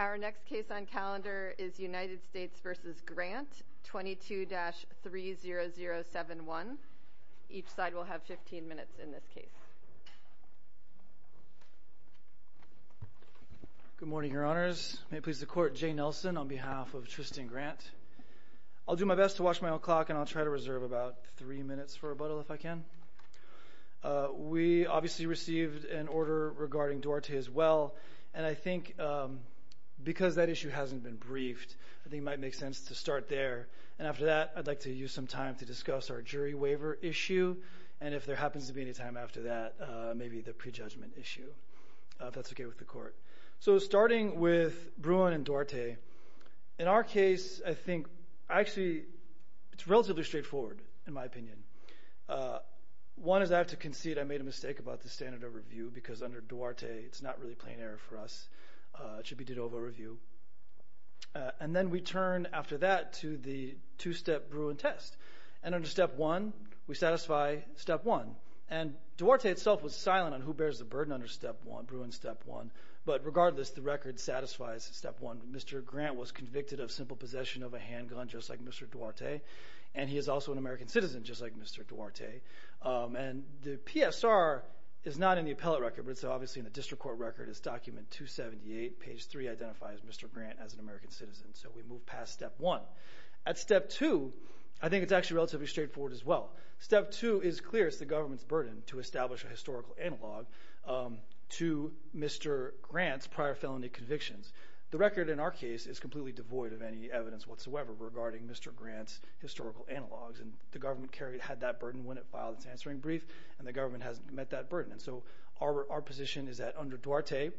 Our next case on calendar is United States v. Grant, 22-30071. Each side will have 15 minutes in this case. Good morning, Your Honors. May it please the Court, Jay Nelson on behalf of Tristan Grant. I'll do my best to watch my own clock and I'll try to reserve about three minutes for rebuttal if I can. We obviously received an order regarding Duarte as well. And I think because that issue hasn't been briefed, I think it might make sense to start there. And after that, I'd like to use some time to discuss our jury waiver issue. And if there happens to be any time after that, maybe the prejudgment issue, if that's okay with the Court. So starting with Bruin and Duarte, in our case, I think actually it's relatively straightforward in my opinion. One is I have to concede I made a mistake about the standard of review because under Duarte it's not really plain error for us. It should be de novo review. And then we turn after that to the two-step Bruin test. And under Step 1, we satisfy Step 1. And Duarte itself was silent on who bears the burden under Step 1, Bruin Step 1. But regardless, the record satisfies Step 1. Mr. Grant was convicted of simple possession of a handgun just like Mr. Duarte. And he is also an American citizen just like Mr. Duarte. And the PSR is not in the appellate record, but it's obviously in the district court record. It's document 278, page 3 identifies Mr. Grant as an American citizen. So we move past Step 1. At Step 2, I think it's actually relatively straightforward as well. Step 2 is clear. It's the government's burden to establish a historical analog to Mr. Grant's prior felony convictions. The record in our case is completely devoid of any evidence whatsoever regarding Mr. Grant's historical analogs. And the government had that burden when it filed its answering brief, and the government has met that burden. And so our position is that under Duarte,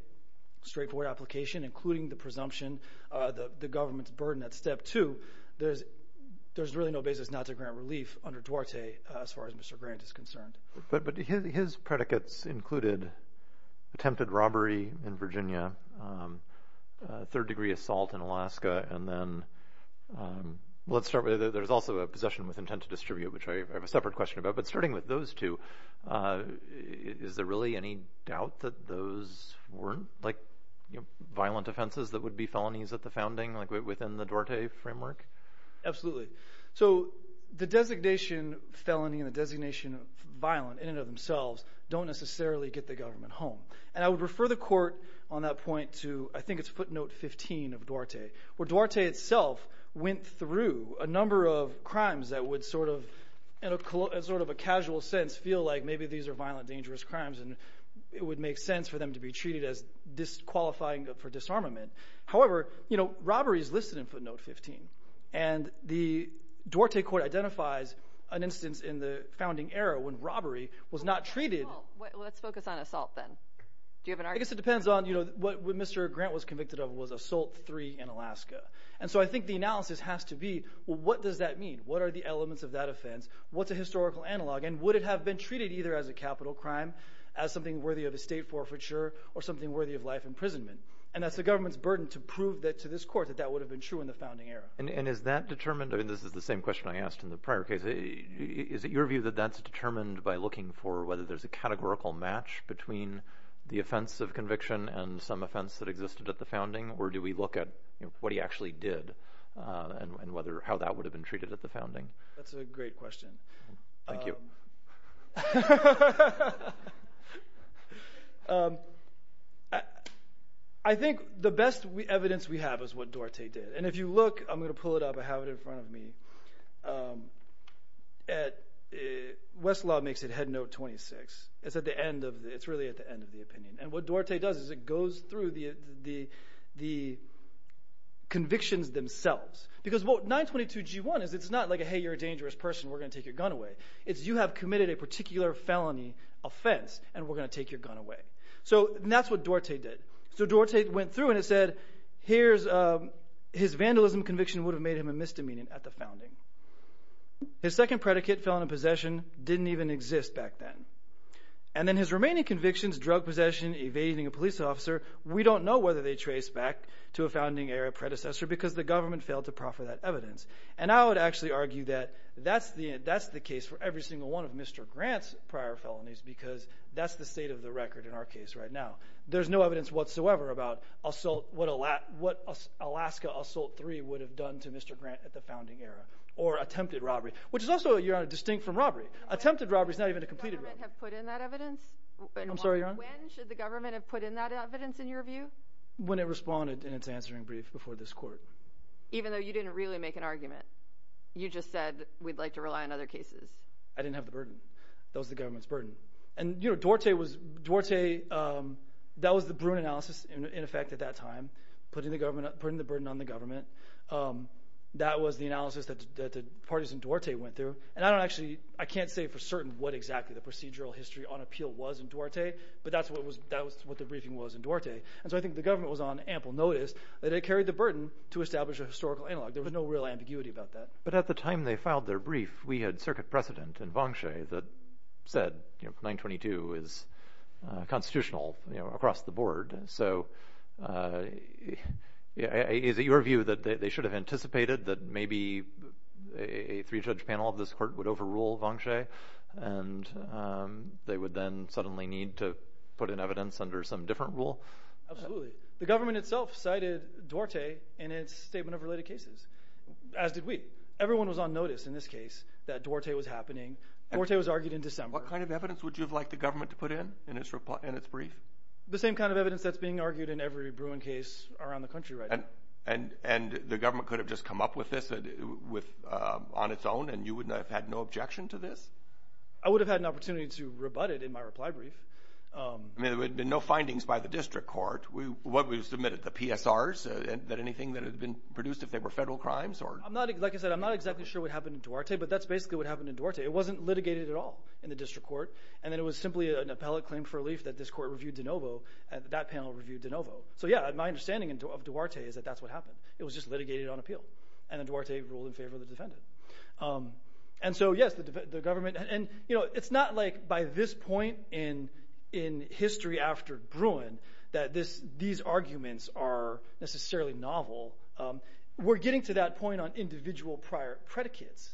straightforward application, including the presumption, the government's burden at Step 2, there's really no basis not to grant relief under Duarte as far as Mr. Grant is concerned. But his predicates included attempted robbery in Virginia, third-degree assault in Alaska, and then there's also a possession with intent to distribute, which I have a separate question about. But starting with those two, is there really any doubt that those weren't like violent offenses that would be felonies at the founding, like within the Duarte framework? Absolutely. So the designation felony and the designation violent in and of themselves don't necessarily get the government home. And I would refer the court on that point to, I think it's footnote 15 of Duarte, where Duarte itself went through a number of crimes that would sort of, in sort of a casual sense, feel like maybe these are violent, dangerous crimes and it would make sense for them to be treated as disqualifying for disarmament. However, robbery is listed in footnote 15, and the Duarte court identifies an instance in the founding era when robbery was not treated. Let's focus on assault then. Do you have an argument? I guess it depends on what Mr. Grant was convicted of was assault three in Alaska. And so I think the analysis has to be, well, what does that mean? What are the elements of that offense? What's a historical analog? And would it have been treated either as a capital crime, as something worthy of estate forfeiture, or something worthy of life imprisonment? And that's the government's burden to prove to this court that that would have been true in the founding era. And is that determined – I mean this is the same question I asked in the prior case. Is it your view that that's determined by looking for whether there's a categorical match between the offense of conviction and some offense that existed at the founding? Or do we look at what he actually did and how that would have been treated at the founding? That's a great question. Thank you. I think the best evidence we have is what Duarte did. And if you look – I'm going to pull it up. I have it in front of me. At – Westlaw makes it head note 26. It's at the end of – it's really at the end of the opinion. And what Duarte does is it goes through the convictions themselves. Because what – 922G1 is it's not like a, hey, you're a dangerous person. We're going to take your gun away. It's you have committed a particular felony offense and we're going to take your gun away. So that's what Duarte did. So Duarte went through and it said here's – his vandalism conviction would have made him a misdemeanor at the founding. His second predicate, felon in possession, didn't even exist back then. And then his remaining convictions, drug possession, evading a police officer, we don't know whether they trace back to a founding era predecessor because the government failed to proffer that evidence. And I would actually argue that that's the case for every single one of Mr. Grant's prior felonies because that's the state of the record in our case right now. There's no evidence whatsoever about assault – what Alaska Assault 3 would have done to Mr. Grant at the founding era or attempted robbery, which is also, Your Honor, distinct from robbery. Attempted robbery is not even a completed robbery. When should the government have put in that evidence? I'm sorry, Your Honor. When should the government have put in that evidence in your view? When it responded in its answering brief before this court. Even though you didn't really make an argument? You just said we'd like to rely on other cases. I didn't have the burden. That was the government's burden. And Duarte was – Duarte – that was the Bruin analysis in effect at that time, putting the burden on the government. That was the analysis that the parties in Duarte went through. And I don't actually – I can't say for certain what exactly the procedural history on appeal was in Duarte, but that's what the briefing was in Duarte. And so I think the government was on ample notice that it carried the burden to establish a historical analog. There was no real ambiguity about that. But at the time they filed their brief, we had circuit precedent in Vongshue that said 922 is constitutional across the board. So is it your view that they should have anticipated that maybe a three-judge panel of this court would overrule Vongshue? And they would then suddenly need to put in evidence under some different rule? Absolutely. The government itself cited Duarte in its statement of related cases, as did we. Everyone was on notice in this case that Duarte was happening. Duarte was argued in December. What kind of evidence would you have liked the government to put in in its brief? The same kind of evidence that's being argued in every Bruin case around the country right now. And the government could have just come up with this on its own, and you would have had no objection to this? I would have had an opportunity to rebut it in my reply brief. There had been no findings by the district court. What we submitted, the PSRs, anything that had been produced if they were federal crimes? Like I said, I'm not exactly sure what happened in Duarte, but that's basically what happened in Duarte. It wasn't litigated at all in the district court. And then it was simply an appellate claim for relief that this court reviewed de novo and that panel reviewed de novo. So, yeah, my understanding of Duarte is that that's what happened. It was just litigated on appeal, and then Duarte ruled in favor of the defendant. And so, yes, the government – and it's not like by this point in history after Bruin that these arguments are necessarily novel. We're getting to that point on individual prior predicates,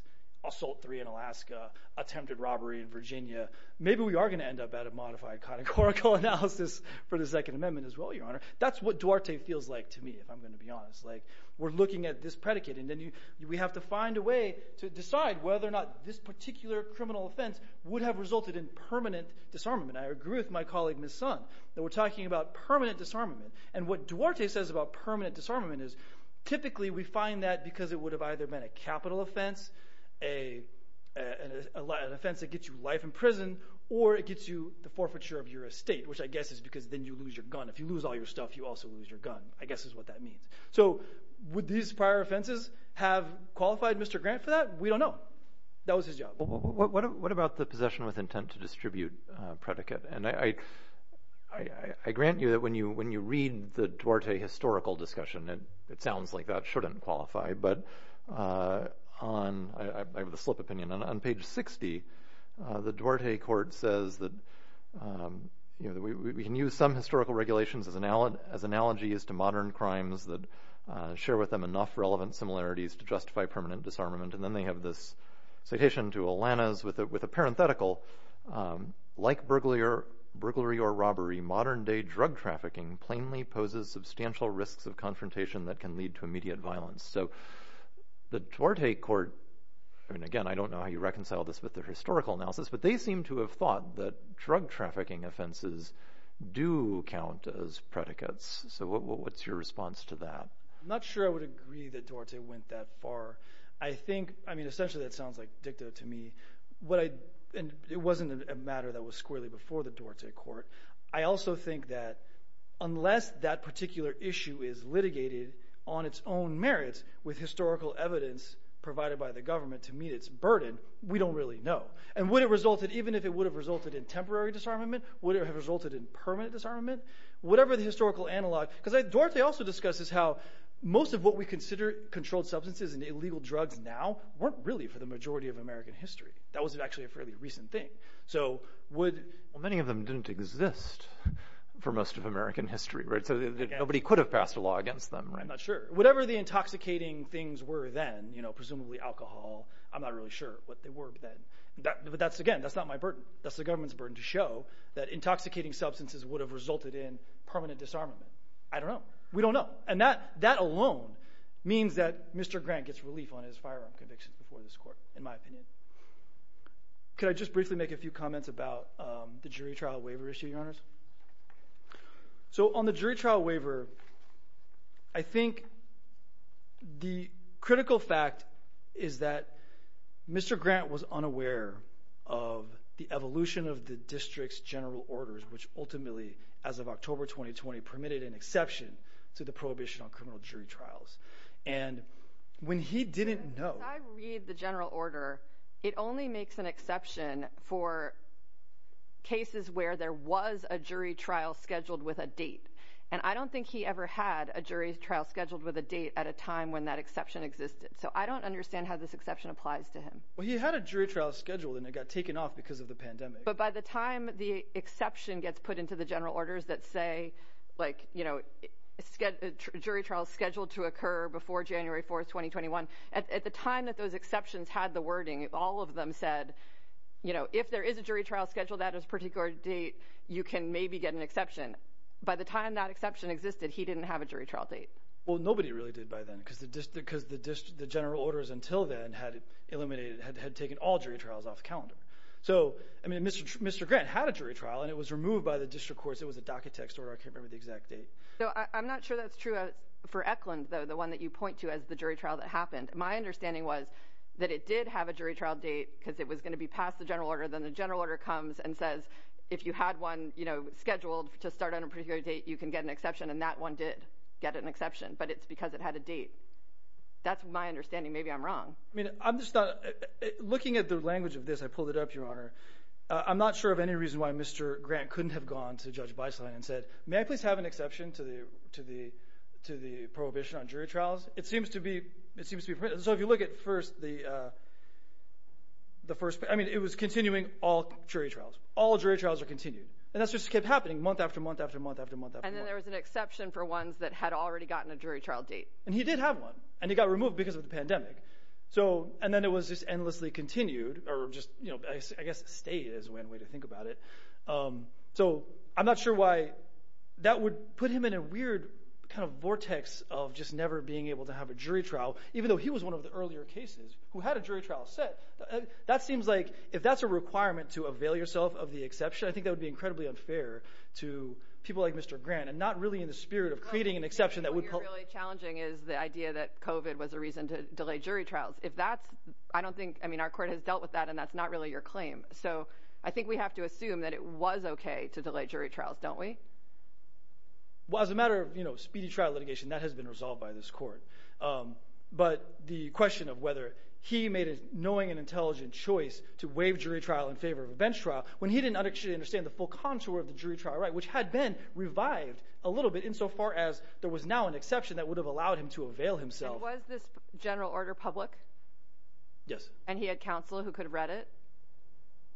Assault 3 in Alaska, attempted robbery in Virginia. Maybe we are going to end up at a modified categorical analysis for the Second Amendment as well, Your Honor. That's what Duarte feels like to me, if I'm going to be honest. Like we're looking at this predicate, and then we have to find a way to decide whether or not this particular criminal offense would have resulted in permanent disarmament. I agree with my colleague Ms. Sun that we're talking about permanent disarmament. And what Duarte says about permanent disarmament is typically we find that because it would have either been a capital offense, an offense that gets you life in prison, or it gets you the forfeiture of your estate, which I guess is because then you lose your gun. If you lose all your stuff, you also lose your gun, I guess is what that means. So would these prior offenses have qualified Mr. Grant for that? We don't know. That was his job. What about the possession with intent to distribute predicate? And I grant you that when you read the Duarte historical discussion, it sounds like that shouldn't qualify. But I have a slip opinion. On page 60, the Duarte court says that we can use some historical regulations as analogies to modern crimes that share with them enough relevant similarities to justify permanent disarmament. And then they have this citation to Alanis with a parenthetical. Like burglary or robbery, modern day drug trafficking plainly poses substantial risks of confrontation that can lead to immediate violence. So the Duarte court, and again, I don't know how you reconcile this with the historical analysis, but they seem to have thought that drug trafficking offenses do count as predicates. So what's your response to that? I'm not sure I would agree that Duarte went that far. I think, I mean essentially that sounds like dicta to me. And it wasn't a matter that was squarely before the Duarte court. I also think that unless that particular issue is litigated on its own merits with historical evidence provided by the government to meet its burden, we don't really know. And would it have resulted, even if it would have resulted in temporary disarmament, would it have resulted in permanent disarmament? Whatever the historical analog, because Duarte also discusses how most of what we consider controlled substances and illegal drugs now weren't really for the majority of American history. That was actually a fairly recent thing. So would… Well, many of them didn't exist for most of American history, right? So nobody could have passed a law against them, right? I'm not sure. Whatever the intoxicating things were then, you know, presumably alcohol, I'm not really sure what they were then. But that's, again, that's not my burden. That's the government's burden to show that intoxicating substances would have resulted in permanent disarmament. I don't know. We don't know. And that alone means that Mr. Grant gets relief on his firearm convictions before this court, in my opinion. Could I just briefly make a few comments about the jury trial waiver issue, Your Honors? So on the jury trial waiver, I think the critical fact is that Mr. Grant was unaware of the evolution of the district's general orders, which ultimately, as of October 2020, permitted an exception to the prohibition on criminal jury trials. And when he didn't know… As I read the general order, it only makes an exception for cases where there was a jury trial scheduled with a date. And I don't think he ever had a jury trial scheduled with a date at a time when that exception existed. So I don't understand how this exception applies to him. Well, he had a jury trial scheduled, and it got taken off because of the pandemic. But by the time the exception gets put into the general orders that say, like, you know, jury trials scheduled to occur before January 4, 2021, at the time that those exceptions had the wording, all of them said, you know, if there is a jury trial scheduled at a particular date, you can maybe get an exception. By the time that exception existed, he didn't have a jury trial date. Well, nobody really did by then because the general orders until then had eliminated – had taken all jury trials off the calendar. So, I mean, Mr. Grant had a jury trial, and it was removed by the district courts. It was a docket text order. I can't remember the exact date. So I'm not sure that's true for Eklund, though, the one that you point to as the jury trial that happened. My understanding was that it did have a jury trial date because it was going to be past the general order. Then the general order comes and says if you had one, you know, scheduled to start on a particular date, you can get an exception. And that one did get an exception, but it's because it had a date. That's my understanding. Maybe I'm wrong. I mean, I'm just not – looking at the language of this, I pulled it up, Your Honor. I'm not sure of any reason why Mr. Grant couldn't have gone to Judge Beislein and said, may I please have an exception to the prohibition on jury trials? It seems to be – so if you look at first the first – I mean, it was continuing all jury trials. All jury trials are continued, and that just kept happening month after month after month after month after month. And then there was an exception for ones that had already gotten a jury trial date. And he did have one, and it got removed because of the pandemic. So – and then it was just endlessly continued or just – I guess stay is one way to think about it. So I'm not sure why that would put him in a weird kind of vortex of just never being able to have a jury trial, even though he was one of the earlier cases who had a jury trial set. That seems like – if that's a requirement to avail yourself of the exception, I think that would be incredibly unfair to people like Mr. Grant and not really in the spirit of creating an exception that would – What's really challenging is the idea that COVID was a reason to delay jury trials. If that's – I don't think – I mean, our court has dealt with that, and that's not really your claim. So I think we have to assume that it was okay to delay jury trials, don't we? Well, as a matter of speedy trial litigation, that has been resolved by this court. But the question of whether he made a knowing and intelligent choice to waive jury trial in favor of a bench trial when he didn't actually understand the full contour of the jury trial right, which had been revived a little bit insofar as there was now an exception that would have allowed him to avail himself. Was this general order public? Yes. And he had counsel who could read it?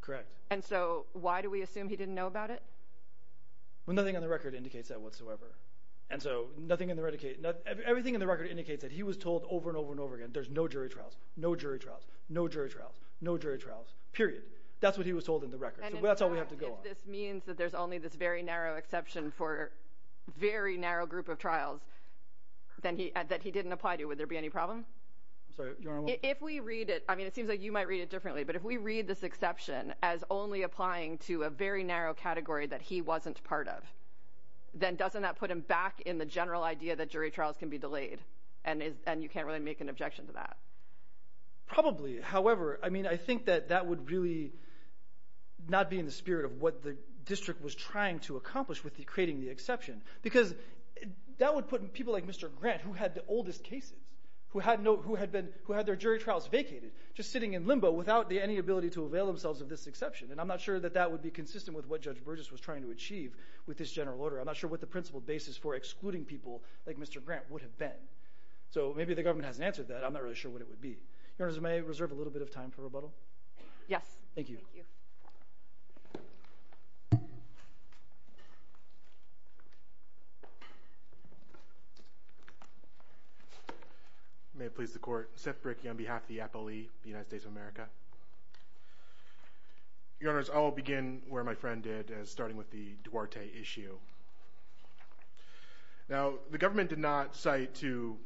Correct. And so why do we assume he didn't know about it? Well, nothing on the record indicates that whatsoever. And so nothing in the – everything in the record indicates that he was told over and over and over again, there's no jury trials, no jury trials, no jury trials, no jury trials, period. So that's all we have to go on. If all of this means that there's only this very narrow exception for very narrow group of trials that he didn't apply to, would there be any problem? I'm sorry. If we read it – I mean it seems like you might read it differently, but if we read this exception as only applying to a very narrow category that he wasn't part of, then doesn't that put him back in the general idea that jury trials can be delayed, and you can't really make an objection to that? Probably. However, I mean I think that that would really not be in the spirit of what the district was trying to accomplish with creating the exception because that would put people like Mr. Grant, who had the oldest cases, who had no – who had been – who had their jury trials vacated, just sitting in limbo without any ability to avail themselves of this exception. And I'm not sure that that would be consistent with what Judge Burgess was trying to achieve with this general order. I'm not sure what the principle basis for excluding people like Mr. Grant would have been. So maybe the government hasn't answered that. I'm not really sure what it would be. Your Honors, may I reserve a little bit of time for rebuttal? Yes. Thank you. May it please the Court. Seth Bricky on behalf of the Appellee of the United States of America. Your Honors, I'll begin where my friend did, starting with the Duarte issue. Now, the government did not cite two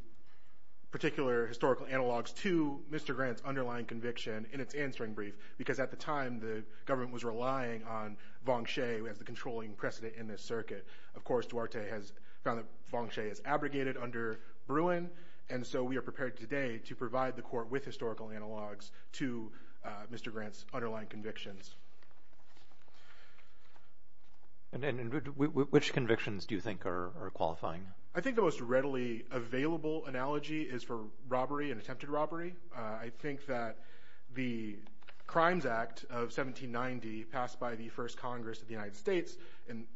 particular historical analogs to Mr. Grant's underlying conviction in its answering brief because at the time the government was relying on Vong Tse as the controlling precedent in this circuit. Of course, Duarte has found that Vong Tse is abrogated under Bruin, and so we are prepared today to provide the Court with historical analogs to Mr. Grant's underlying convictions. And which convictions do you think are qualifying? I think the most readily available analogy is for robbery and attempted robbery. I think that the Crimes Act of 1790 passed by the first Congress of the United States,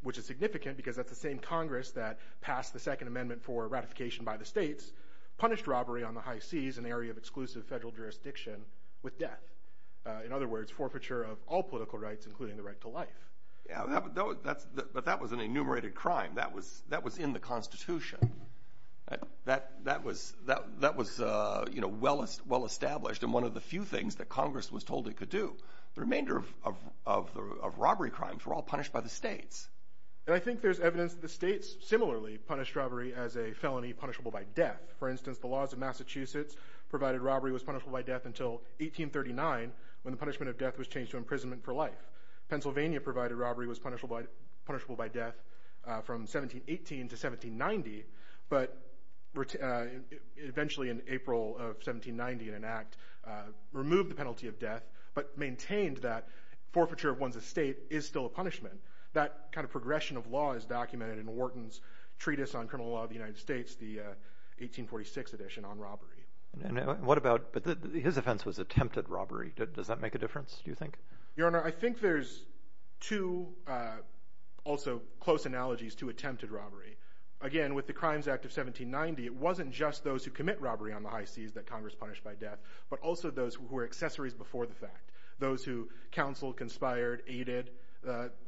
which is significant because that's the same Congress that passed the Second Amendment for ratification by the states, punished robbery on the high seas, an area of exclusive federal jurisdiction, with death. In other words, forfeiture of all political rights, including the right to life. Yeah, but that was an enumerated crime. That was in the Constitution. That was well established and one of the few things that Congress was told it could do. The remainder of robbery crimes were all punished by the states. And I think there's evidence that the states similarly punished robbery as a felony punishable by death. For instance, the laws of Massachusetts provided robbery was punishable by death until 1839, when the punishment of death was changed to imprisonment for life. Pennsylvania provided robbery was punishable by death from 1718 to 1790, but eventually in April of 1790, an act removed the penalty of death, but maintained that forfeiture of one's estate is still a punishment. That kind of progression of law is documented in Wharton's Treatise on Criminal Law of the United States, the 1846 edition on robbery. And what about—his offense was attempted robbery. Does that make a difference, do you think? Your Honor, I think there's two also close analogies to attempted robbery. Again, with the Crimes Act of 1790, it wasn't just those who commit robbery on the high seas that Congress punished by death, but also those who were accessories before the fact. Those who counseled, conspired, aided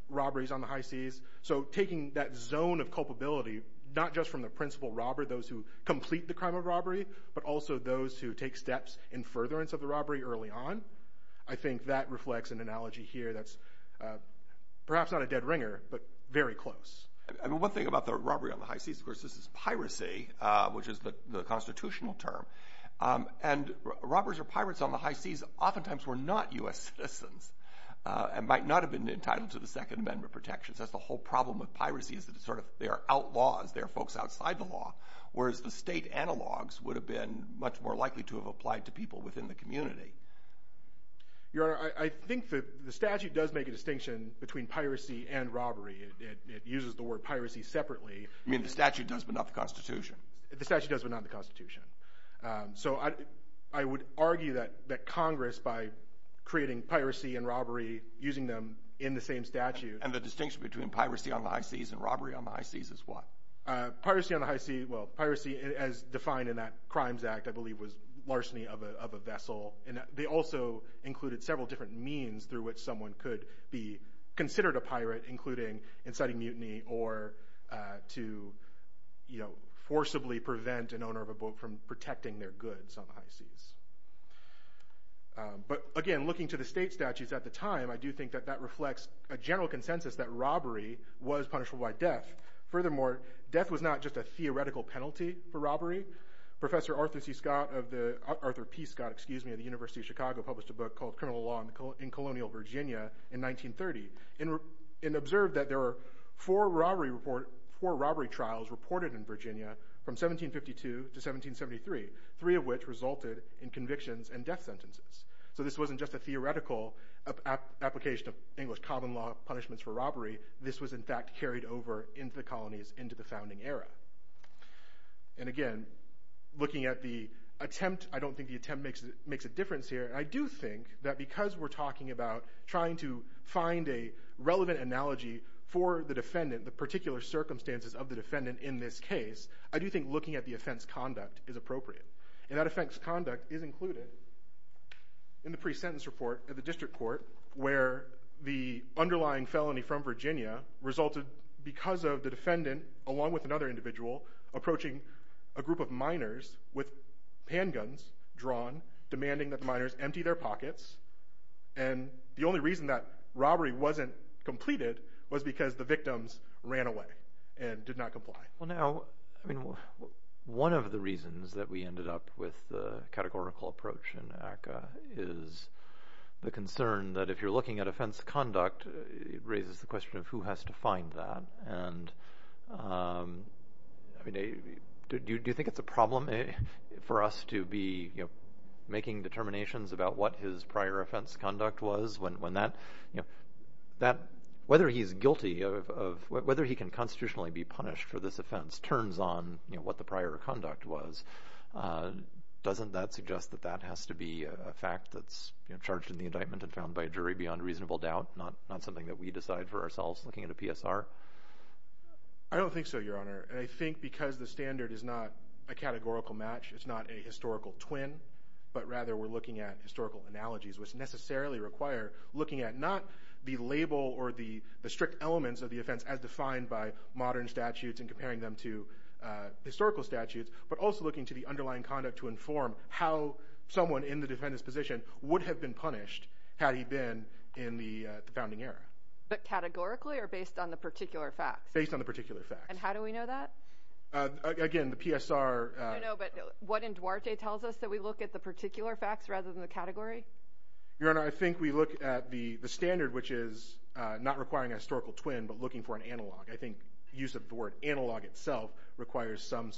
robberies on the high seas. So taking that zone of culpability, not just from the principal robber, those who complete the crime of robbery, but also those who take steps in furtherance of the robbery early on, I think that reflects an analogy here that's perhaps not a dead ringer, but very close. One thing about the robbery on the high seas, of course, this is piracy, which is the constitutional term. And robbers or pirates on the high seas oftentimes were not U.S. citizens and might not have been entitled to the Second Amendment protections. That's the whole problem with piracy is that they are outlaws. They are folks outside the law, whereas the state analogs would have been much more likely to have applied to people within the community. Your Honor, I think the statute does make a distinction between piracy and robbery. It uses the word piracy separately. You mean the statute does, but not the Constitution? The statute does, but not the Constitution. So I would argue that Congress, by creating piracy and robbery, using them in the same statute. And the distinction between piracy on the high seas and robbery on the high seas is what? Piracy on the high sea, well, piracy as defined in that Crimes Act, I believe, was larceny of a vessel. And they also included several different means through which someone could be considered a pirate, including inciting mutiny or to forcibly prevent an owner of a boat from protecting their goods on the high seas. But again, looking to the state statutes at the time, I do think that that reflects a general consensus that robbery was punishable by death. Furthermore, death was not just a theoretical penalty for robbery. Professor Arthur P. Scott of the University of Chicago published a book called Criminal Law in Colonial Virginia in 1930. And observed that there were four robbery trials reported in Virginia from 1752 to 1773, three of which resulted in convictions and death sentences. So this wasn't just a theoretical application of English common law punishments for robbery. This was, in fact, carried over into the colonies into the founding era. And again, looking at the attempt, I don't think the attempt makes a difference here. And I do think that because we're talking about trying to find a relevant analogy for the defendant, the particular circumstances of the defendant in this case, I do think looking at the offense conduct is appropriate. And that offense conduct is included in the pre-sentence report at the district court, where the underlying felony from Virginia resulted because of the defendant, along with another individual, approaching a group of minors with handguns drawn, demanding that minors empty their pockets. And the only reason that robbery wasn't completed was because the victims ran away and did not comply. Well, now, one of the reasons that we ended up with the categorical approach in ACCA is the concern that if you're looking at offense conduct, it raises the question of who has to find that. And do you think it's a problem for us to be making determinations about what his prior offense conduct was when that, whether he's guilty of whether he can constitutionally be punished for this offense, turns on what the prior conduct was. Doesn't that suggest that that has to be a fact that's charged in the indictment and found by a jury beyond reasonable doubt? Not something that we decide for ourselves looking at a PSR? I don't think so, Your Honor. And I think because the standard is not a categorical match, it's not a historical twin, but rather we're looking at historical analogies, which necessarily require looking at not the label or the strict elements of the offense as defined by modern statutes and comparing them to historical statutes, but also looking to the underlying conduct to inform how someone in the defendant's position would have been punished had he been in the founding era. But categorically or based on the particular facts? Based on the particular facts. And how do we know that? Again, the PSR. I don't know, but what in Duarte tells us that we look at the particular facts rather than the category? Your Honor, I think we look at the standard, which is not requiring a historical twin, but looking for an analog. I think use of the word analog itself requires some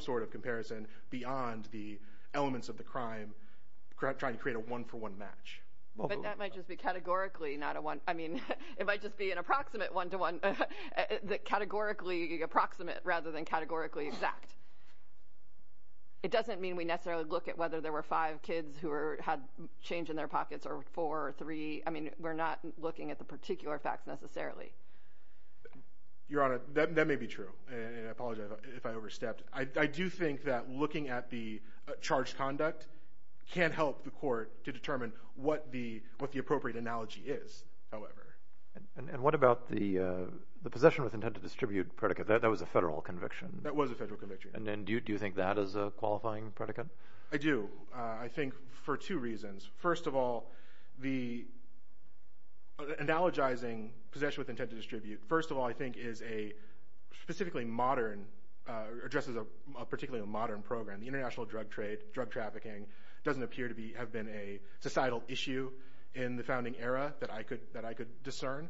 sort of comparison beyond the elements of the crime, trying to create a one-for-one match. But that might just be categorically not a one. I mean, it might just be an approximate one-to-one, categorically approximate rather than categorically exact. It doesn't mean we necessarily look at whether there were five kids who had change in their pockets or four or three. I mean, we're not looking at the particular facts necessarily. Your Honor, that may be true, and I apologize if I overstepped. I do think that looking at the charged conduct can help the court to determine what the appropriate analogy is, however. And what about the possession with intent to distribute predicate? That was a federal conviction. That was a federal conviction. And do you think that is a qualifying predicate? I do. I think for two reasons. First of all, the analogizing possession with intent to distribute, first of all, I think is a specifically modern, addresses a particularly modern program. The international drug trade, drug trafficking, doesn't appear to have been a societal issue in the founding era that I could discern.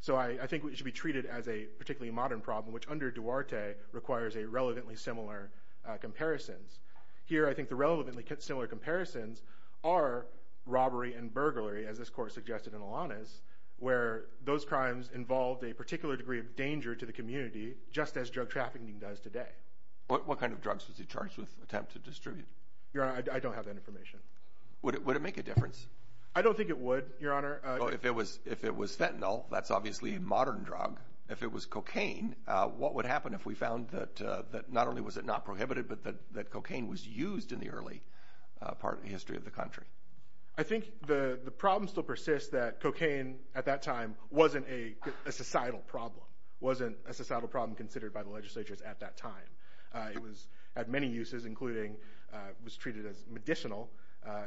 So I think it should be treated as a particularly modern problem, which under Duarte requires a relevantly similar comparisons. Here, I think the relevantly similar comparisons are robbery and burglary, as this court suggested in Alanis, where those crimes involved a particular degree of danger to the community, just as drug trafficking does today. What kind of drugs was he charged with attempt to distribute? Your Honor, I don't have that information. Would it make a difference? I don't think it would, Your Honor. Well, if it was fentanyl, that's obviously a modern drug. If it was cocaine, what would happen if we found that not only was it not prohibited, but that cocaine was used in the early part of the history of the country? I think the problem still persists that cocaine at that time wasn't a societal problem, wasn't a societal problem considered by the legislatures at that time. It was at many uses, including it was treated as medicinal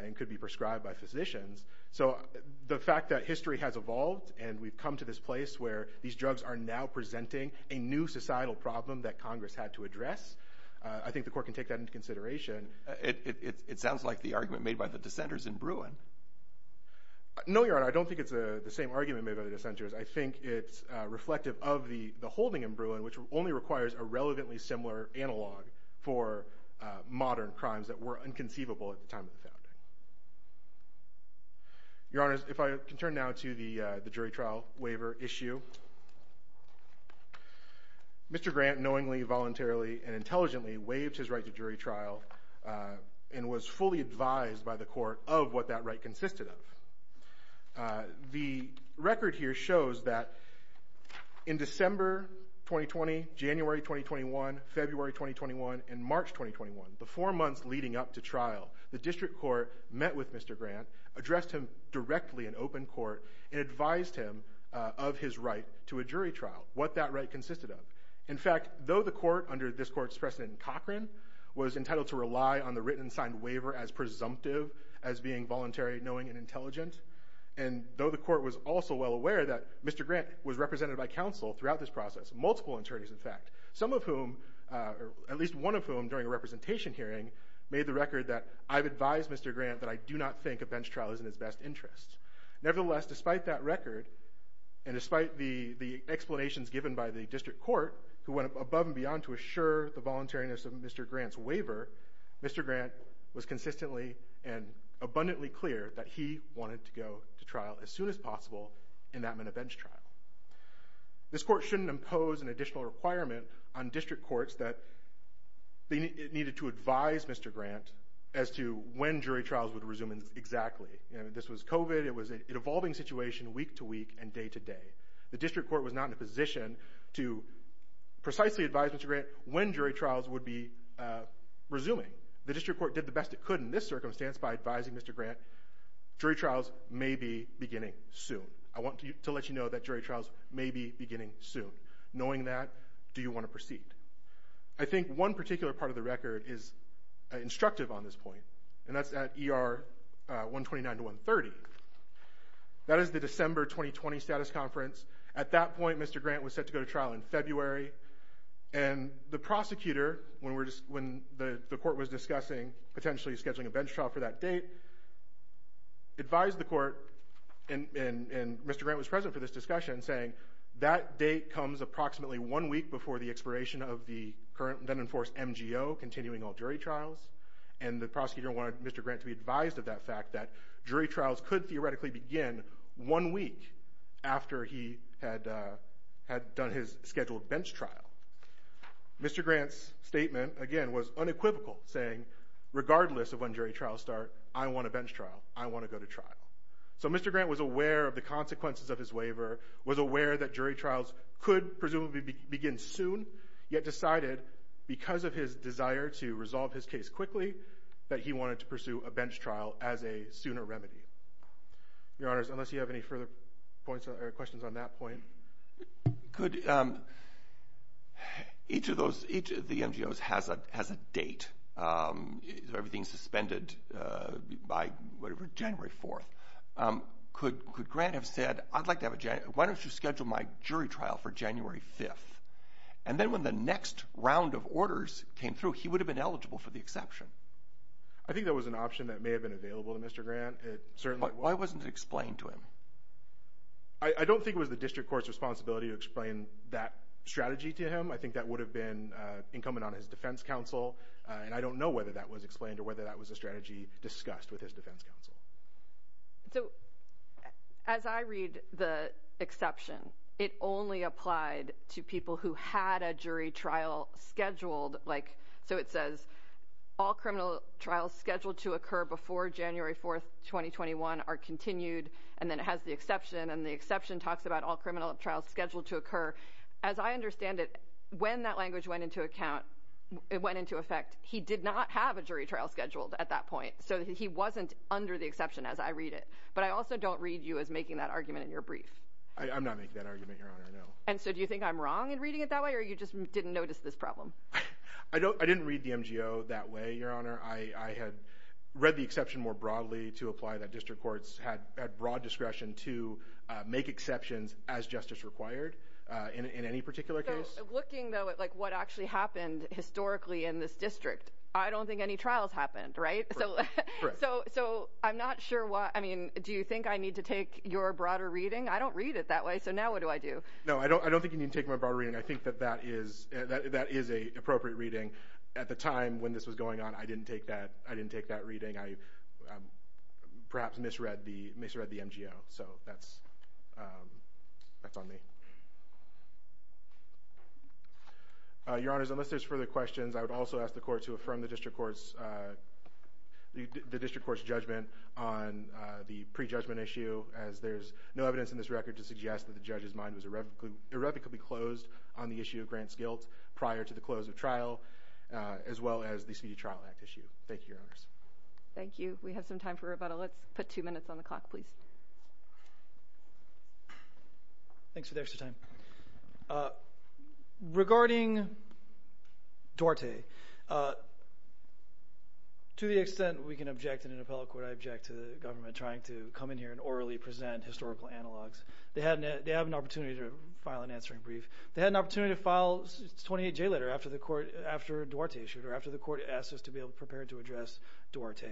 and could be prescribed by physicians. So the fact that history has evolved and we've come to this place where these drugs are now presenting a new societal problem that Congress had to address, I think the court can take that into consideration. It sounds like the argument made by the dissenters in Bruin. No, Your Honor, I don't think it's the same argument made by the dissenters. I think it's reflective of the holding in Bruin, which only requires a relevantly similar analog for modern crimes that were unconceivable at the time of the founding. Your Honor, if I can turn now to the jury trial waiver issue. Mr. Grant knowingly, voluntarily, and intelligently waived his right to jury trial and was fully advised by the court of what that right consisted of. The record here shows that in December 2020, January 2021, February 2021, and March 2021, the four months leading up to trial, the district court met with Mr. Grant, addressed him directly in open court, and advised him of his right to a jury trial, what that right consisted of. In fact, though the court, under this court's precedent in Cochran, was entitled to rely on the written and signed waiver as presumptive, as being voluntary, knowing, and intelligent, and though the court was also well aware that Mr. Grant was represented by counsel throughout this process, multiple attorneys in fact, some of whom, at least one of whom during a representation hearing, made the record that, I've advised Mr. Grant that I do not think a bench trial is in his best interest. Nevertheless, despite that record, and despite the explanations given by the district court, who went above and beyond to assure the voluntariness of Mr. Grant's waiver, Mr. Grant was consistently and abundantly clear that he wanted to go to trial as soon as possible in that minute bench trial. This court shouldn't impose an additional requirement on district courts that it needed to advise Mr. Grant as to when jury trials would resume exactly. This was COVID, it was an evolving situation week to week and day to day. The district court was not in a position to precisely advise Mr. Grant when jury trials would be resuming. The district court did the best it could in this circumstance by advising Mr. Grant, jury trials may be beginning soon. I want to let you know that jury trials may be beginning soon. Knowing that, do you want to proceed? I think one particular part of the record is instructive on this point, and that's at ER 129 to 130. That is the December 2020 status conference. At that point, Mr. Grant was set to go to trial in February, and the prosecutor, when the court was discussing potentially scheduling a bench trial for that date, advised the court, and Mr. Grant was present for this discussion, saying that date comes approximately one week before the expiration of the current, then enforced, MGO, continuing all jury trials. And the prosecutor wanted Mr. Grant to be advised of that fact, that jury trials could theoretically begin one week after he had done his scheduled bench trial. Mr. Grant's statement, again, was unequivocal, saying regardless of when jury trials start, I want a bench trial. I want to go to trial. So Mr. Grant was aware of the consequences of his waiver, was aware that jury trials could presumably begin soon, yet decided, because of his desire to resolve his case quickly, that he wanted to pursue a bench trial as a sooner remedy. Your Honors, unless you have any further questions on that point. Could each of the MGOs has a date, everything suspended by January 4th. Could Grant have said, why don't you schedule my jury trial for January 5th? And then when the next round of orders came through, he would have been eligible for the exception. I think that was an option that may have been available to Mr. Grant. Why wasn't it explained to him? I don't think it was the district court's responsibility to explain that strategy to him. I think that would have been incumbent on his defense counsel, and I don't know whether that was explained or whether that was a strategy discussed with his defense counsel. So as I read the exception, it only applied to people who had a jury trial scheduled. Like, so it says all criminal trials scheduled to occur before January 4th, 2021, are continued. And then it has the exception, and the exception talks about all criminal trials scheduled to occur. As I understand it, when that language went into account, it went into effect, he did not have a jury trial scheduled at that point. So he wasn't under the exception as I read it. But I also don't read you as making that argument in your brief. I'm not making that argument, Your Honor, no. And so do you think I'm wrong in reading it that way, or you just didn't notice this problem? I didn't read the MGO that way, Your Honor. I had read the exception more broadly to apply that district courts had broad discretion to make exceptions as justice required in any particular case. Looking, though, at what actually happened historically in this district, I don't think any trials happened, right? So I'm not sure what – I mean, do you think I need to take your broader reading? I don't read it that way, so now what do I do? No, I don't think you need to take my broader reading. I think that that is an appropriate reading. At the time when this was going on, I didn't take that reading. I perhaps misread the MGO, so that's on me. Your Honors, unless there's further questions, I would also ask the Court to affirm the district court's judgment on the prejudgment issue, as there's no evidence in this record to suggest that the judge's mind was irrevocably closed on the issue of Grant's guilt prior to the close of trial, as well as the Speedy Trial Act issue. Thank you, Your Honors. Thank you. We have some time for rebuttal. Let's put two minutes on the clock, please. Thanks for the extra time. Regarding Duarte, to the extent we can object in an appellate court, I object to the government trying to come in here and orally present historical analogs. They have an opportunity to file an answering brief. They had an opportunity to file a 28-J letter after Duarte issued or after the court asked us to be able to prepare to address Duarte.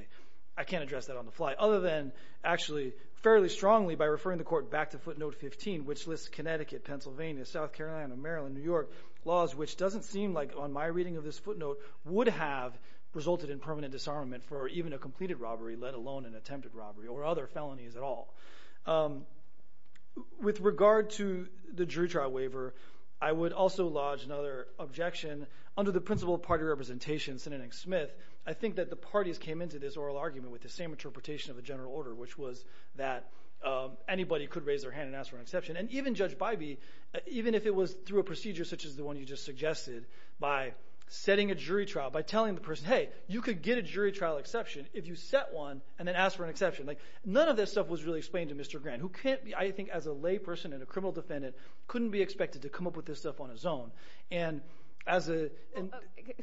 I can't address that on the fly, other than actually fairly strongly by referring the court back to footnote 15, which lists Connecticut, Pennsylvania, South Carolina, Maryland, New York laws, which doesn't seem like on my reading of this footnote would have resulted in permanent disarmament for even a completed robbery, let alone an attempted robbery or other felonies at all. With regard to the jury trial waiver, I would also lodge another objection. Under the principle of party representation, Senator Nick Smith, I think that the parties came into this oral argument with the same interpretation of the general order, which was that anybody could raise their hand and ask for an exception. And even Judge Bybee, even if it was through a procedure such as the one you just suggested, by setting a jury trial, by telling the person, hey, you could get a jury trial exception if you set one and then ask for an exception. None of this stuff was really explained to Mr. Grant, who can't be, I think, as a lay person and a criminal defendant, couldn't be expected to come up with this stuff on his own. And as a.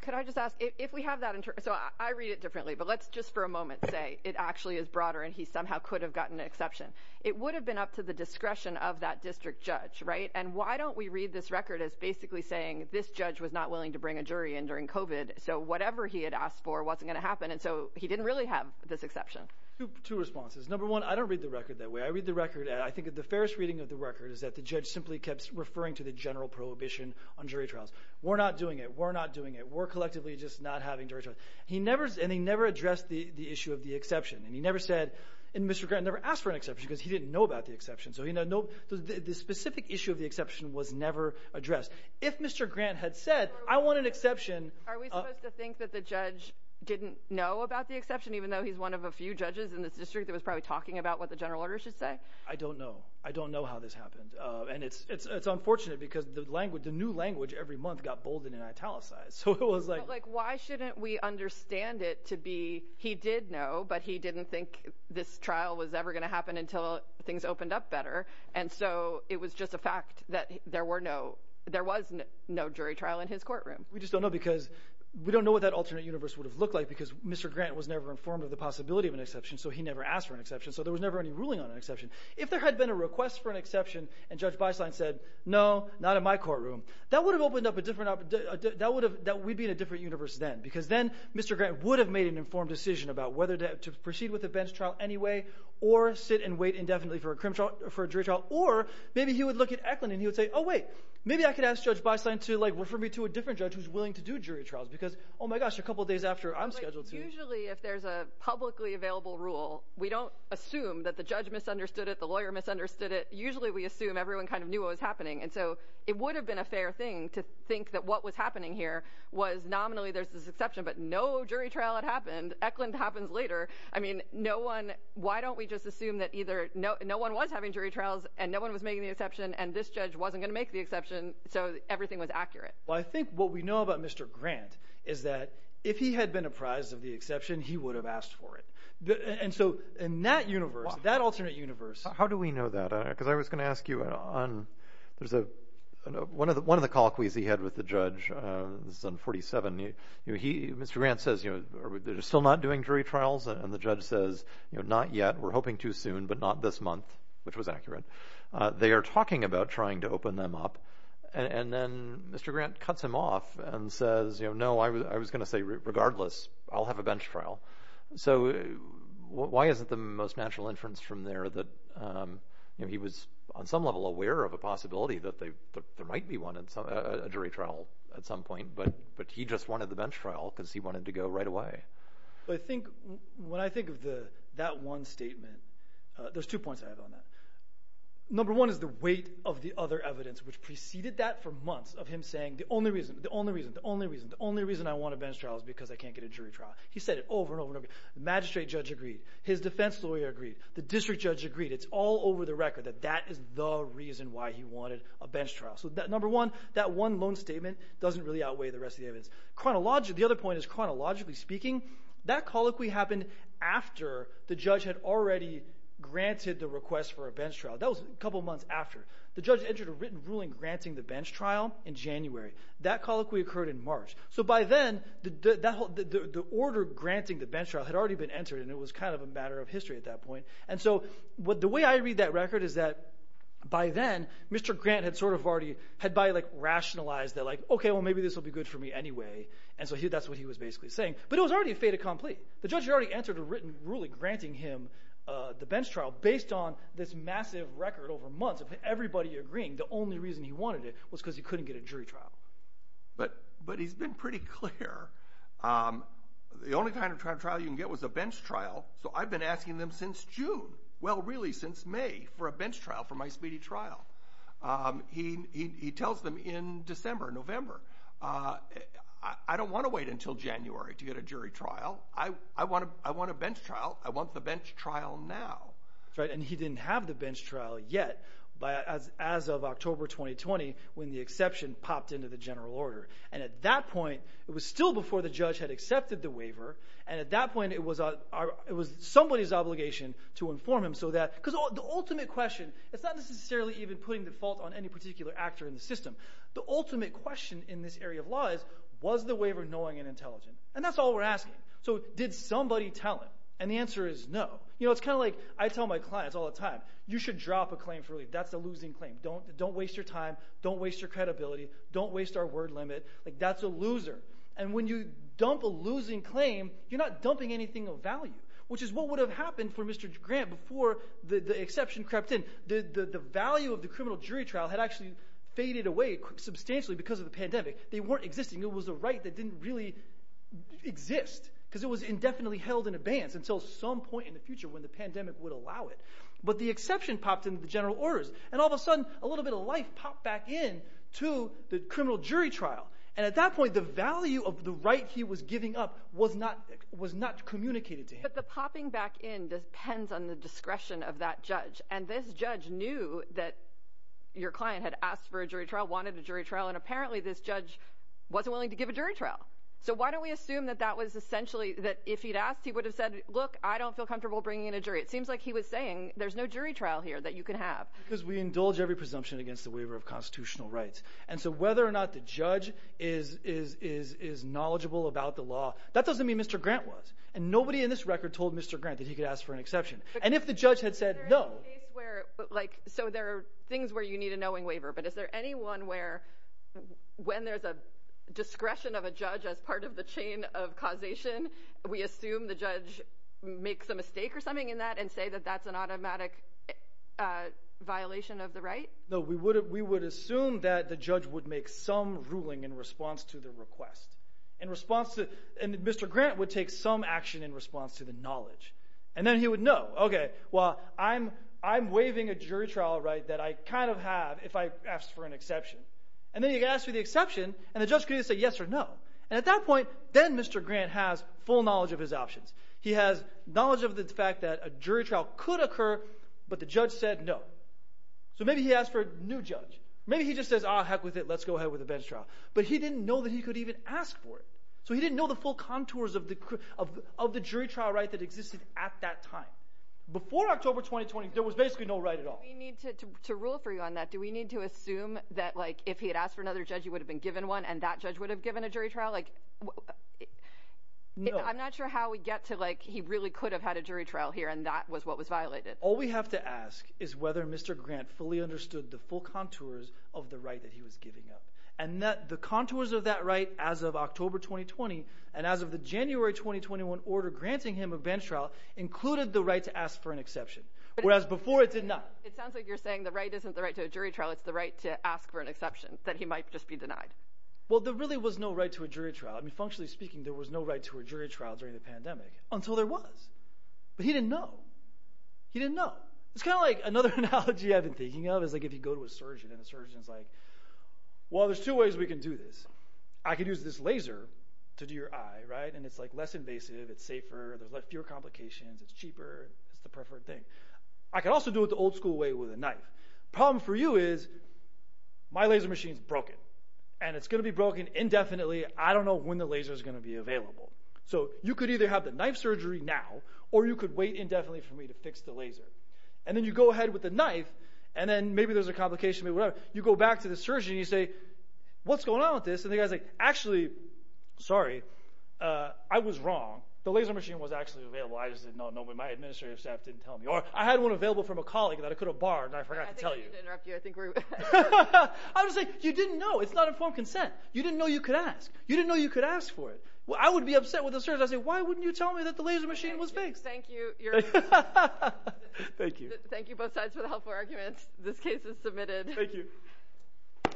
Could I just ask if we have that? So I read it differently. But let's just for a moment say it actually is broader and he somehow could have gotten an exception. It would have been up to the discretion of that district judge. Right. And why don't we read this record as basically saying this judge was not willing to bring a jury in during covid. So whatever he had asked for wasn't going to happen. And so he didn't really have this exception to responses. Number one, I don't read the record that way. I read the record. I think the fairest reading of the record is that the judge simply kept referring to the general prohibition on jury trials. We're not doing it. We're not doing it. We're collectively just not having to. He never and he never addressed the issue of the exception. And he never said and Mr. Grant never asked for an exception because he didn't know about the exception. So, you know, the specific issue of the exception was never addressed. If Mr. Grant had said, I want an exception. Are we supposed to think that the judge didn't know about the exception, even though he's one of a few judges in this district that was probably talking about what the general order should say? I don't know. I don't know how this happened. And it's it's it's unfortunate because the language, the new language every month got bolded and italicized. So it was like, why shouldn't we understand it to be? He did know, but he didn't think this trial was ever going to happen until things opened up better. And so it was just a fact that there were no there was no jury trial in his courtroom. We just don't know because we don't know what that alternate universe would have looked like because Mr. Grant was never informed of the possibility of an exception. So he never asked for an exception. So there was never any ruling on an exception. If there had been a request for an exception and Judge Beisline said, no, not in my courtroom, that would have opened up a different that would have that we'd be in a different universe then, because then Mr. Grant would have made an informed decision about whether to proceed with the bench trial anyway or sit and wait indefinitely for a criminal for a jury trial. Or maybe he would look at Eklund and he would say, oh, wait, maybe I could ask Judge Beisline to, like, refer me to a different judge who's willing to do jury trials because, oh, my gosh, a couple of days after I'm scheduled to. Usually if there's a publicly available rule, we don't assume that the judge misunderstood it. The lawyer misunderstood it. Usually we assume everyone kind of knew what was happening. And so it would have been a fair thing to think that what was happening here was nominally there's this exception, but no jury trial had happened. Eklund happens later. I mean, no one. Why don't we just assume that either no one was having jury trials and no one was making the exception and this judge wasn't going to make the exception. So everything was accurate. Well, I think what we know about Mr. Grant is that if he had been apprised of the exception, he would have asked for it. And so in that universe, that alternate universe. How do we know that? Because I was going to ask you on there's a one of the one of the call quiz he had with the judge on 47. He Mr. Grant says, you know, they're still not doing jury trials. And the judge says, not yet. We're hoping too soon, but not this month, which was accurate. They are talking about trying to open them up. And then Mr. Grant cuts him off and says, you know, no, I was I was going to say, regardless, I'll have a bench trial. So why isn't the most natural inference from there that he was on some level aware of a possibility that they might be wanted a jury trial at some point? But but he just wanted the bench trial because he wanted to go right away. I think when I think of the that one statement, there's two points I have on that. Number one is the weight of the other evidence, which preceded that for months of him saying the only reason, the only reason, the only reason, the only reason I want a bench trial is because I can't get a jury trial. He said it over and over again. The magistrate judge agreed. His defense lawyer agreed. The district judge agreed. It's all over the record that that is the reason why he wanted a bench trial. So that number one, that one loan statement doesn't really outweigh the rest of the evidence chronologically. The other point is chronologically speaking, that colloquy happened after the judge had already granted the request for a bench trial. That was a couple of months after the judge entered a written ruling granting the bench trial in January. That colloquy occurred in March. So by then, the order granting the bench trial had already been entered and it was kind of a matter of history at that point. And so the way I read that record is that by then, Mr. Grant had sort of already – had by like rationalized that like, OK, well, maybe this will be good for me anyway. And so that's what he was basically saying. But it was already a fait accompli. The judge had already entered a written ruling granting him the bench trial based on this massive record over months of everybody agreeing the only reason he wanted it was because he couldn't get a jury trial. But he's been pretty clear the only kind of trial you can get was a bench trial. So I've been asking them since June, well, really since May for a bench trial for my speedy trial. He tells them in December, November, I don't want to wait until January to get a jury trial. I want a bench trial. I want the bench trial now. And he didn't have the bench trial yet as of October 2020 when the exception popped into the general order. And at that point, it was still before the judge had accepted the waiver. And at that point, it was somebody's obligation to inform him so that – because the ultimate question – it's not necessarily even putting the fault on any particular actor in the system. The ultimate question in this area of law is was the waiver knowing and intelligent? And that's all we're asking. So did somebody tell him? And the answer is no. It's kind of like I tell my clients all the time. You should drop a claim for relief. That's a losing claim. Don't waste your time. Don't waste your credibility. Don't waste our word limit. That's a loser. And when you dump a losing claim, you're not dumping anything of value, which is what would have happened for Mr. Grant before the exception crept in. The value of the criminal jury trial had actually faded away substantially because of the pandemic. They weren't existing. It was a right that didn't really exist because it was indefinitely held in abeyance until some point in the future when the pandemic would allow it. But the exception popped into the general orders, and all of a sudden, a little bit of life popped back in to the criminal jury trial. And at that point, the value of the right he was giving up was not communicated to him. But the popping back in depends on the discretion of that judge. And this judge knew that your client had asked for a jury trial, wanted a jury trial, and apparently this judge wasn't willing to give a jury trial. So why don't we assume that that was essentially that if he'd asked, he would have said, look, I don't feel comfortable bringing in a jury. It seems like he was saying there's no jury trial here that you can have because we indulge every presumption against the waiver of constitutional rights. And so whether or not the judge is is is is knowledgeable about the law. That doesn't mean Mr. Grant was and nobody in this record told Mr. Grant that he could ask for an exception. And if the judge had said, no, like, so there are things where you need a knowing waiver. But is there anyone where when there's a discretion of a judge as part of the chain of causation, we assume the judge makes a mistake or something in that and say that that's an automatic violation of the right? No, we would we would assume that the judge would make some ruling in response to the request in response to Mr. Grant would take some action in response to the knowledge. And then he would know, OK, well, I'm I'm waiving a jury trial, right, that I kind of have if I asked for an exception. And then you ask for the exception and the judge could say yes or no. And at that point, then Mr. Grant has full knowledge of his options. He has knowledge of the fact that a jury trial could occur, but the judge said no. So maybe he asked for a new judge. Maybe he just says, oh, heck with it. Let's go ahead with a bench trial. But he didn't know that he could even ask for it. So he didn't know the full contours of the of of the jury trial right that existed at that time. Before October 2020, there was basically no right at all. We need to rule for you on that. Do we need to assume that like if he had asked for another judge, he would have been given one and that judge would have given a jury trial? Like I'm not sure how we get to like he really could have had a jury trial here. And that was what was violated. All we have to ask is whether Mr. Grant fully understood the full contours of the right that he was giving up and that the contours of that right. As of October 2020 and as of the January 2021 order granting him a bench trial included the right to ask for an exception, whereas before it did not. It sounds like you're saying the right isn't the right to a jury trial. It's the right to ask for an exception that he might just be denied. Well, there really was no right to a jury trial. I mean, functionally speaking, there was no right to a jury trial during the pandemic until there was. But he didn't know. He didn't know. It's kind of like another analogy I've been thinking of is like if you go to a surgeon and a surgeon is like, well, there's two ways we can do this. I could use this laser to do your eye. Right. And it's like less invasive. It's safer. There's fewer complications. It's cheaper. It's the preferred thing. I can also do it the old school way with a knife. Problem for you is my laser machine is broken and it's going to be broken indefinitely. I don't know when the laser is going to be available. So you could either have the knife surgery now or you could wait indefinitely for me to fix the laser. And then you go ahead with the knife and then maybe there's a complication. You go back to the surgeon. You say, what's going on with this? And the guy's like, actually, sorry, I was wrong. The laser machine was actually available. I just didn't know. My administrative staff didn't tell me or I had one available from a colleague that I could have barred. I forgot to tell you. I think we're. I was like, you didn't know. It's not informed consent. You didn't know you could ask. You didn't know you could ask for it. Well, I would be upset with the surgeon. I say, why wouldn't you tell me that the laser machine was fixed? Thank you. Thank you. Thank you both sides for the helpful arguments. This case is submitted. Thank you.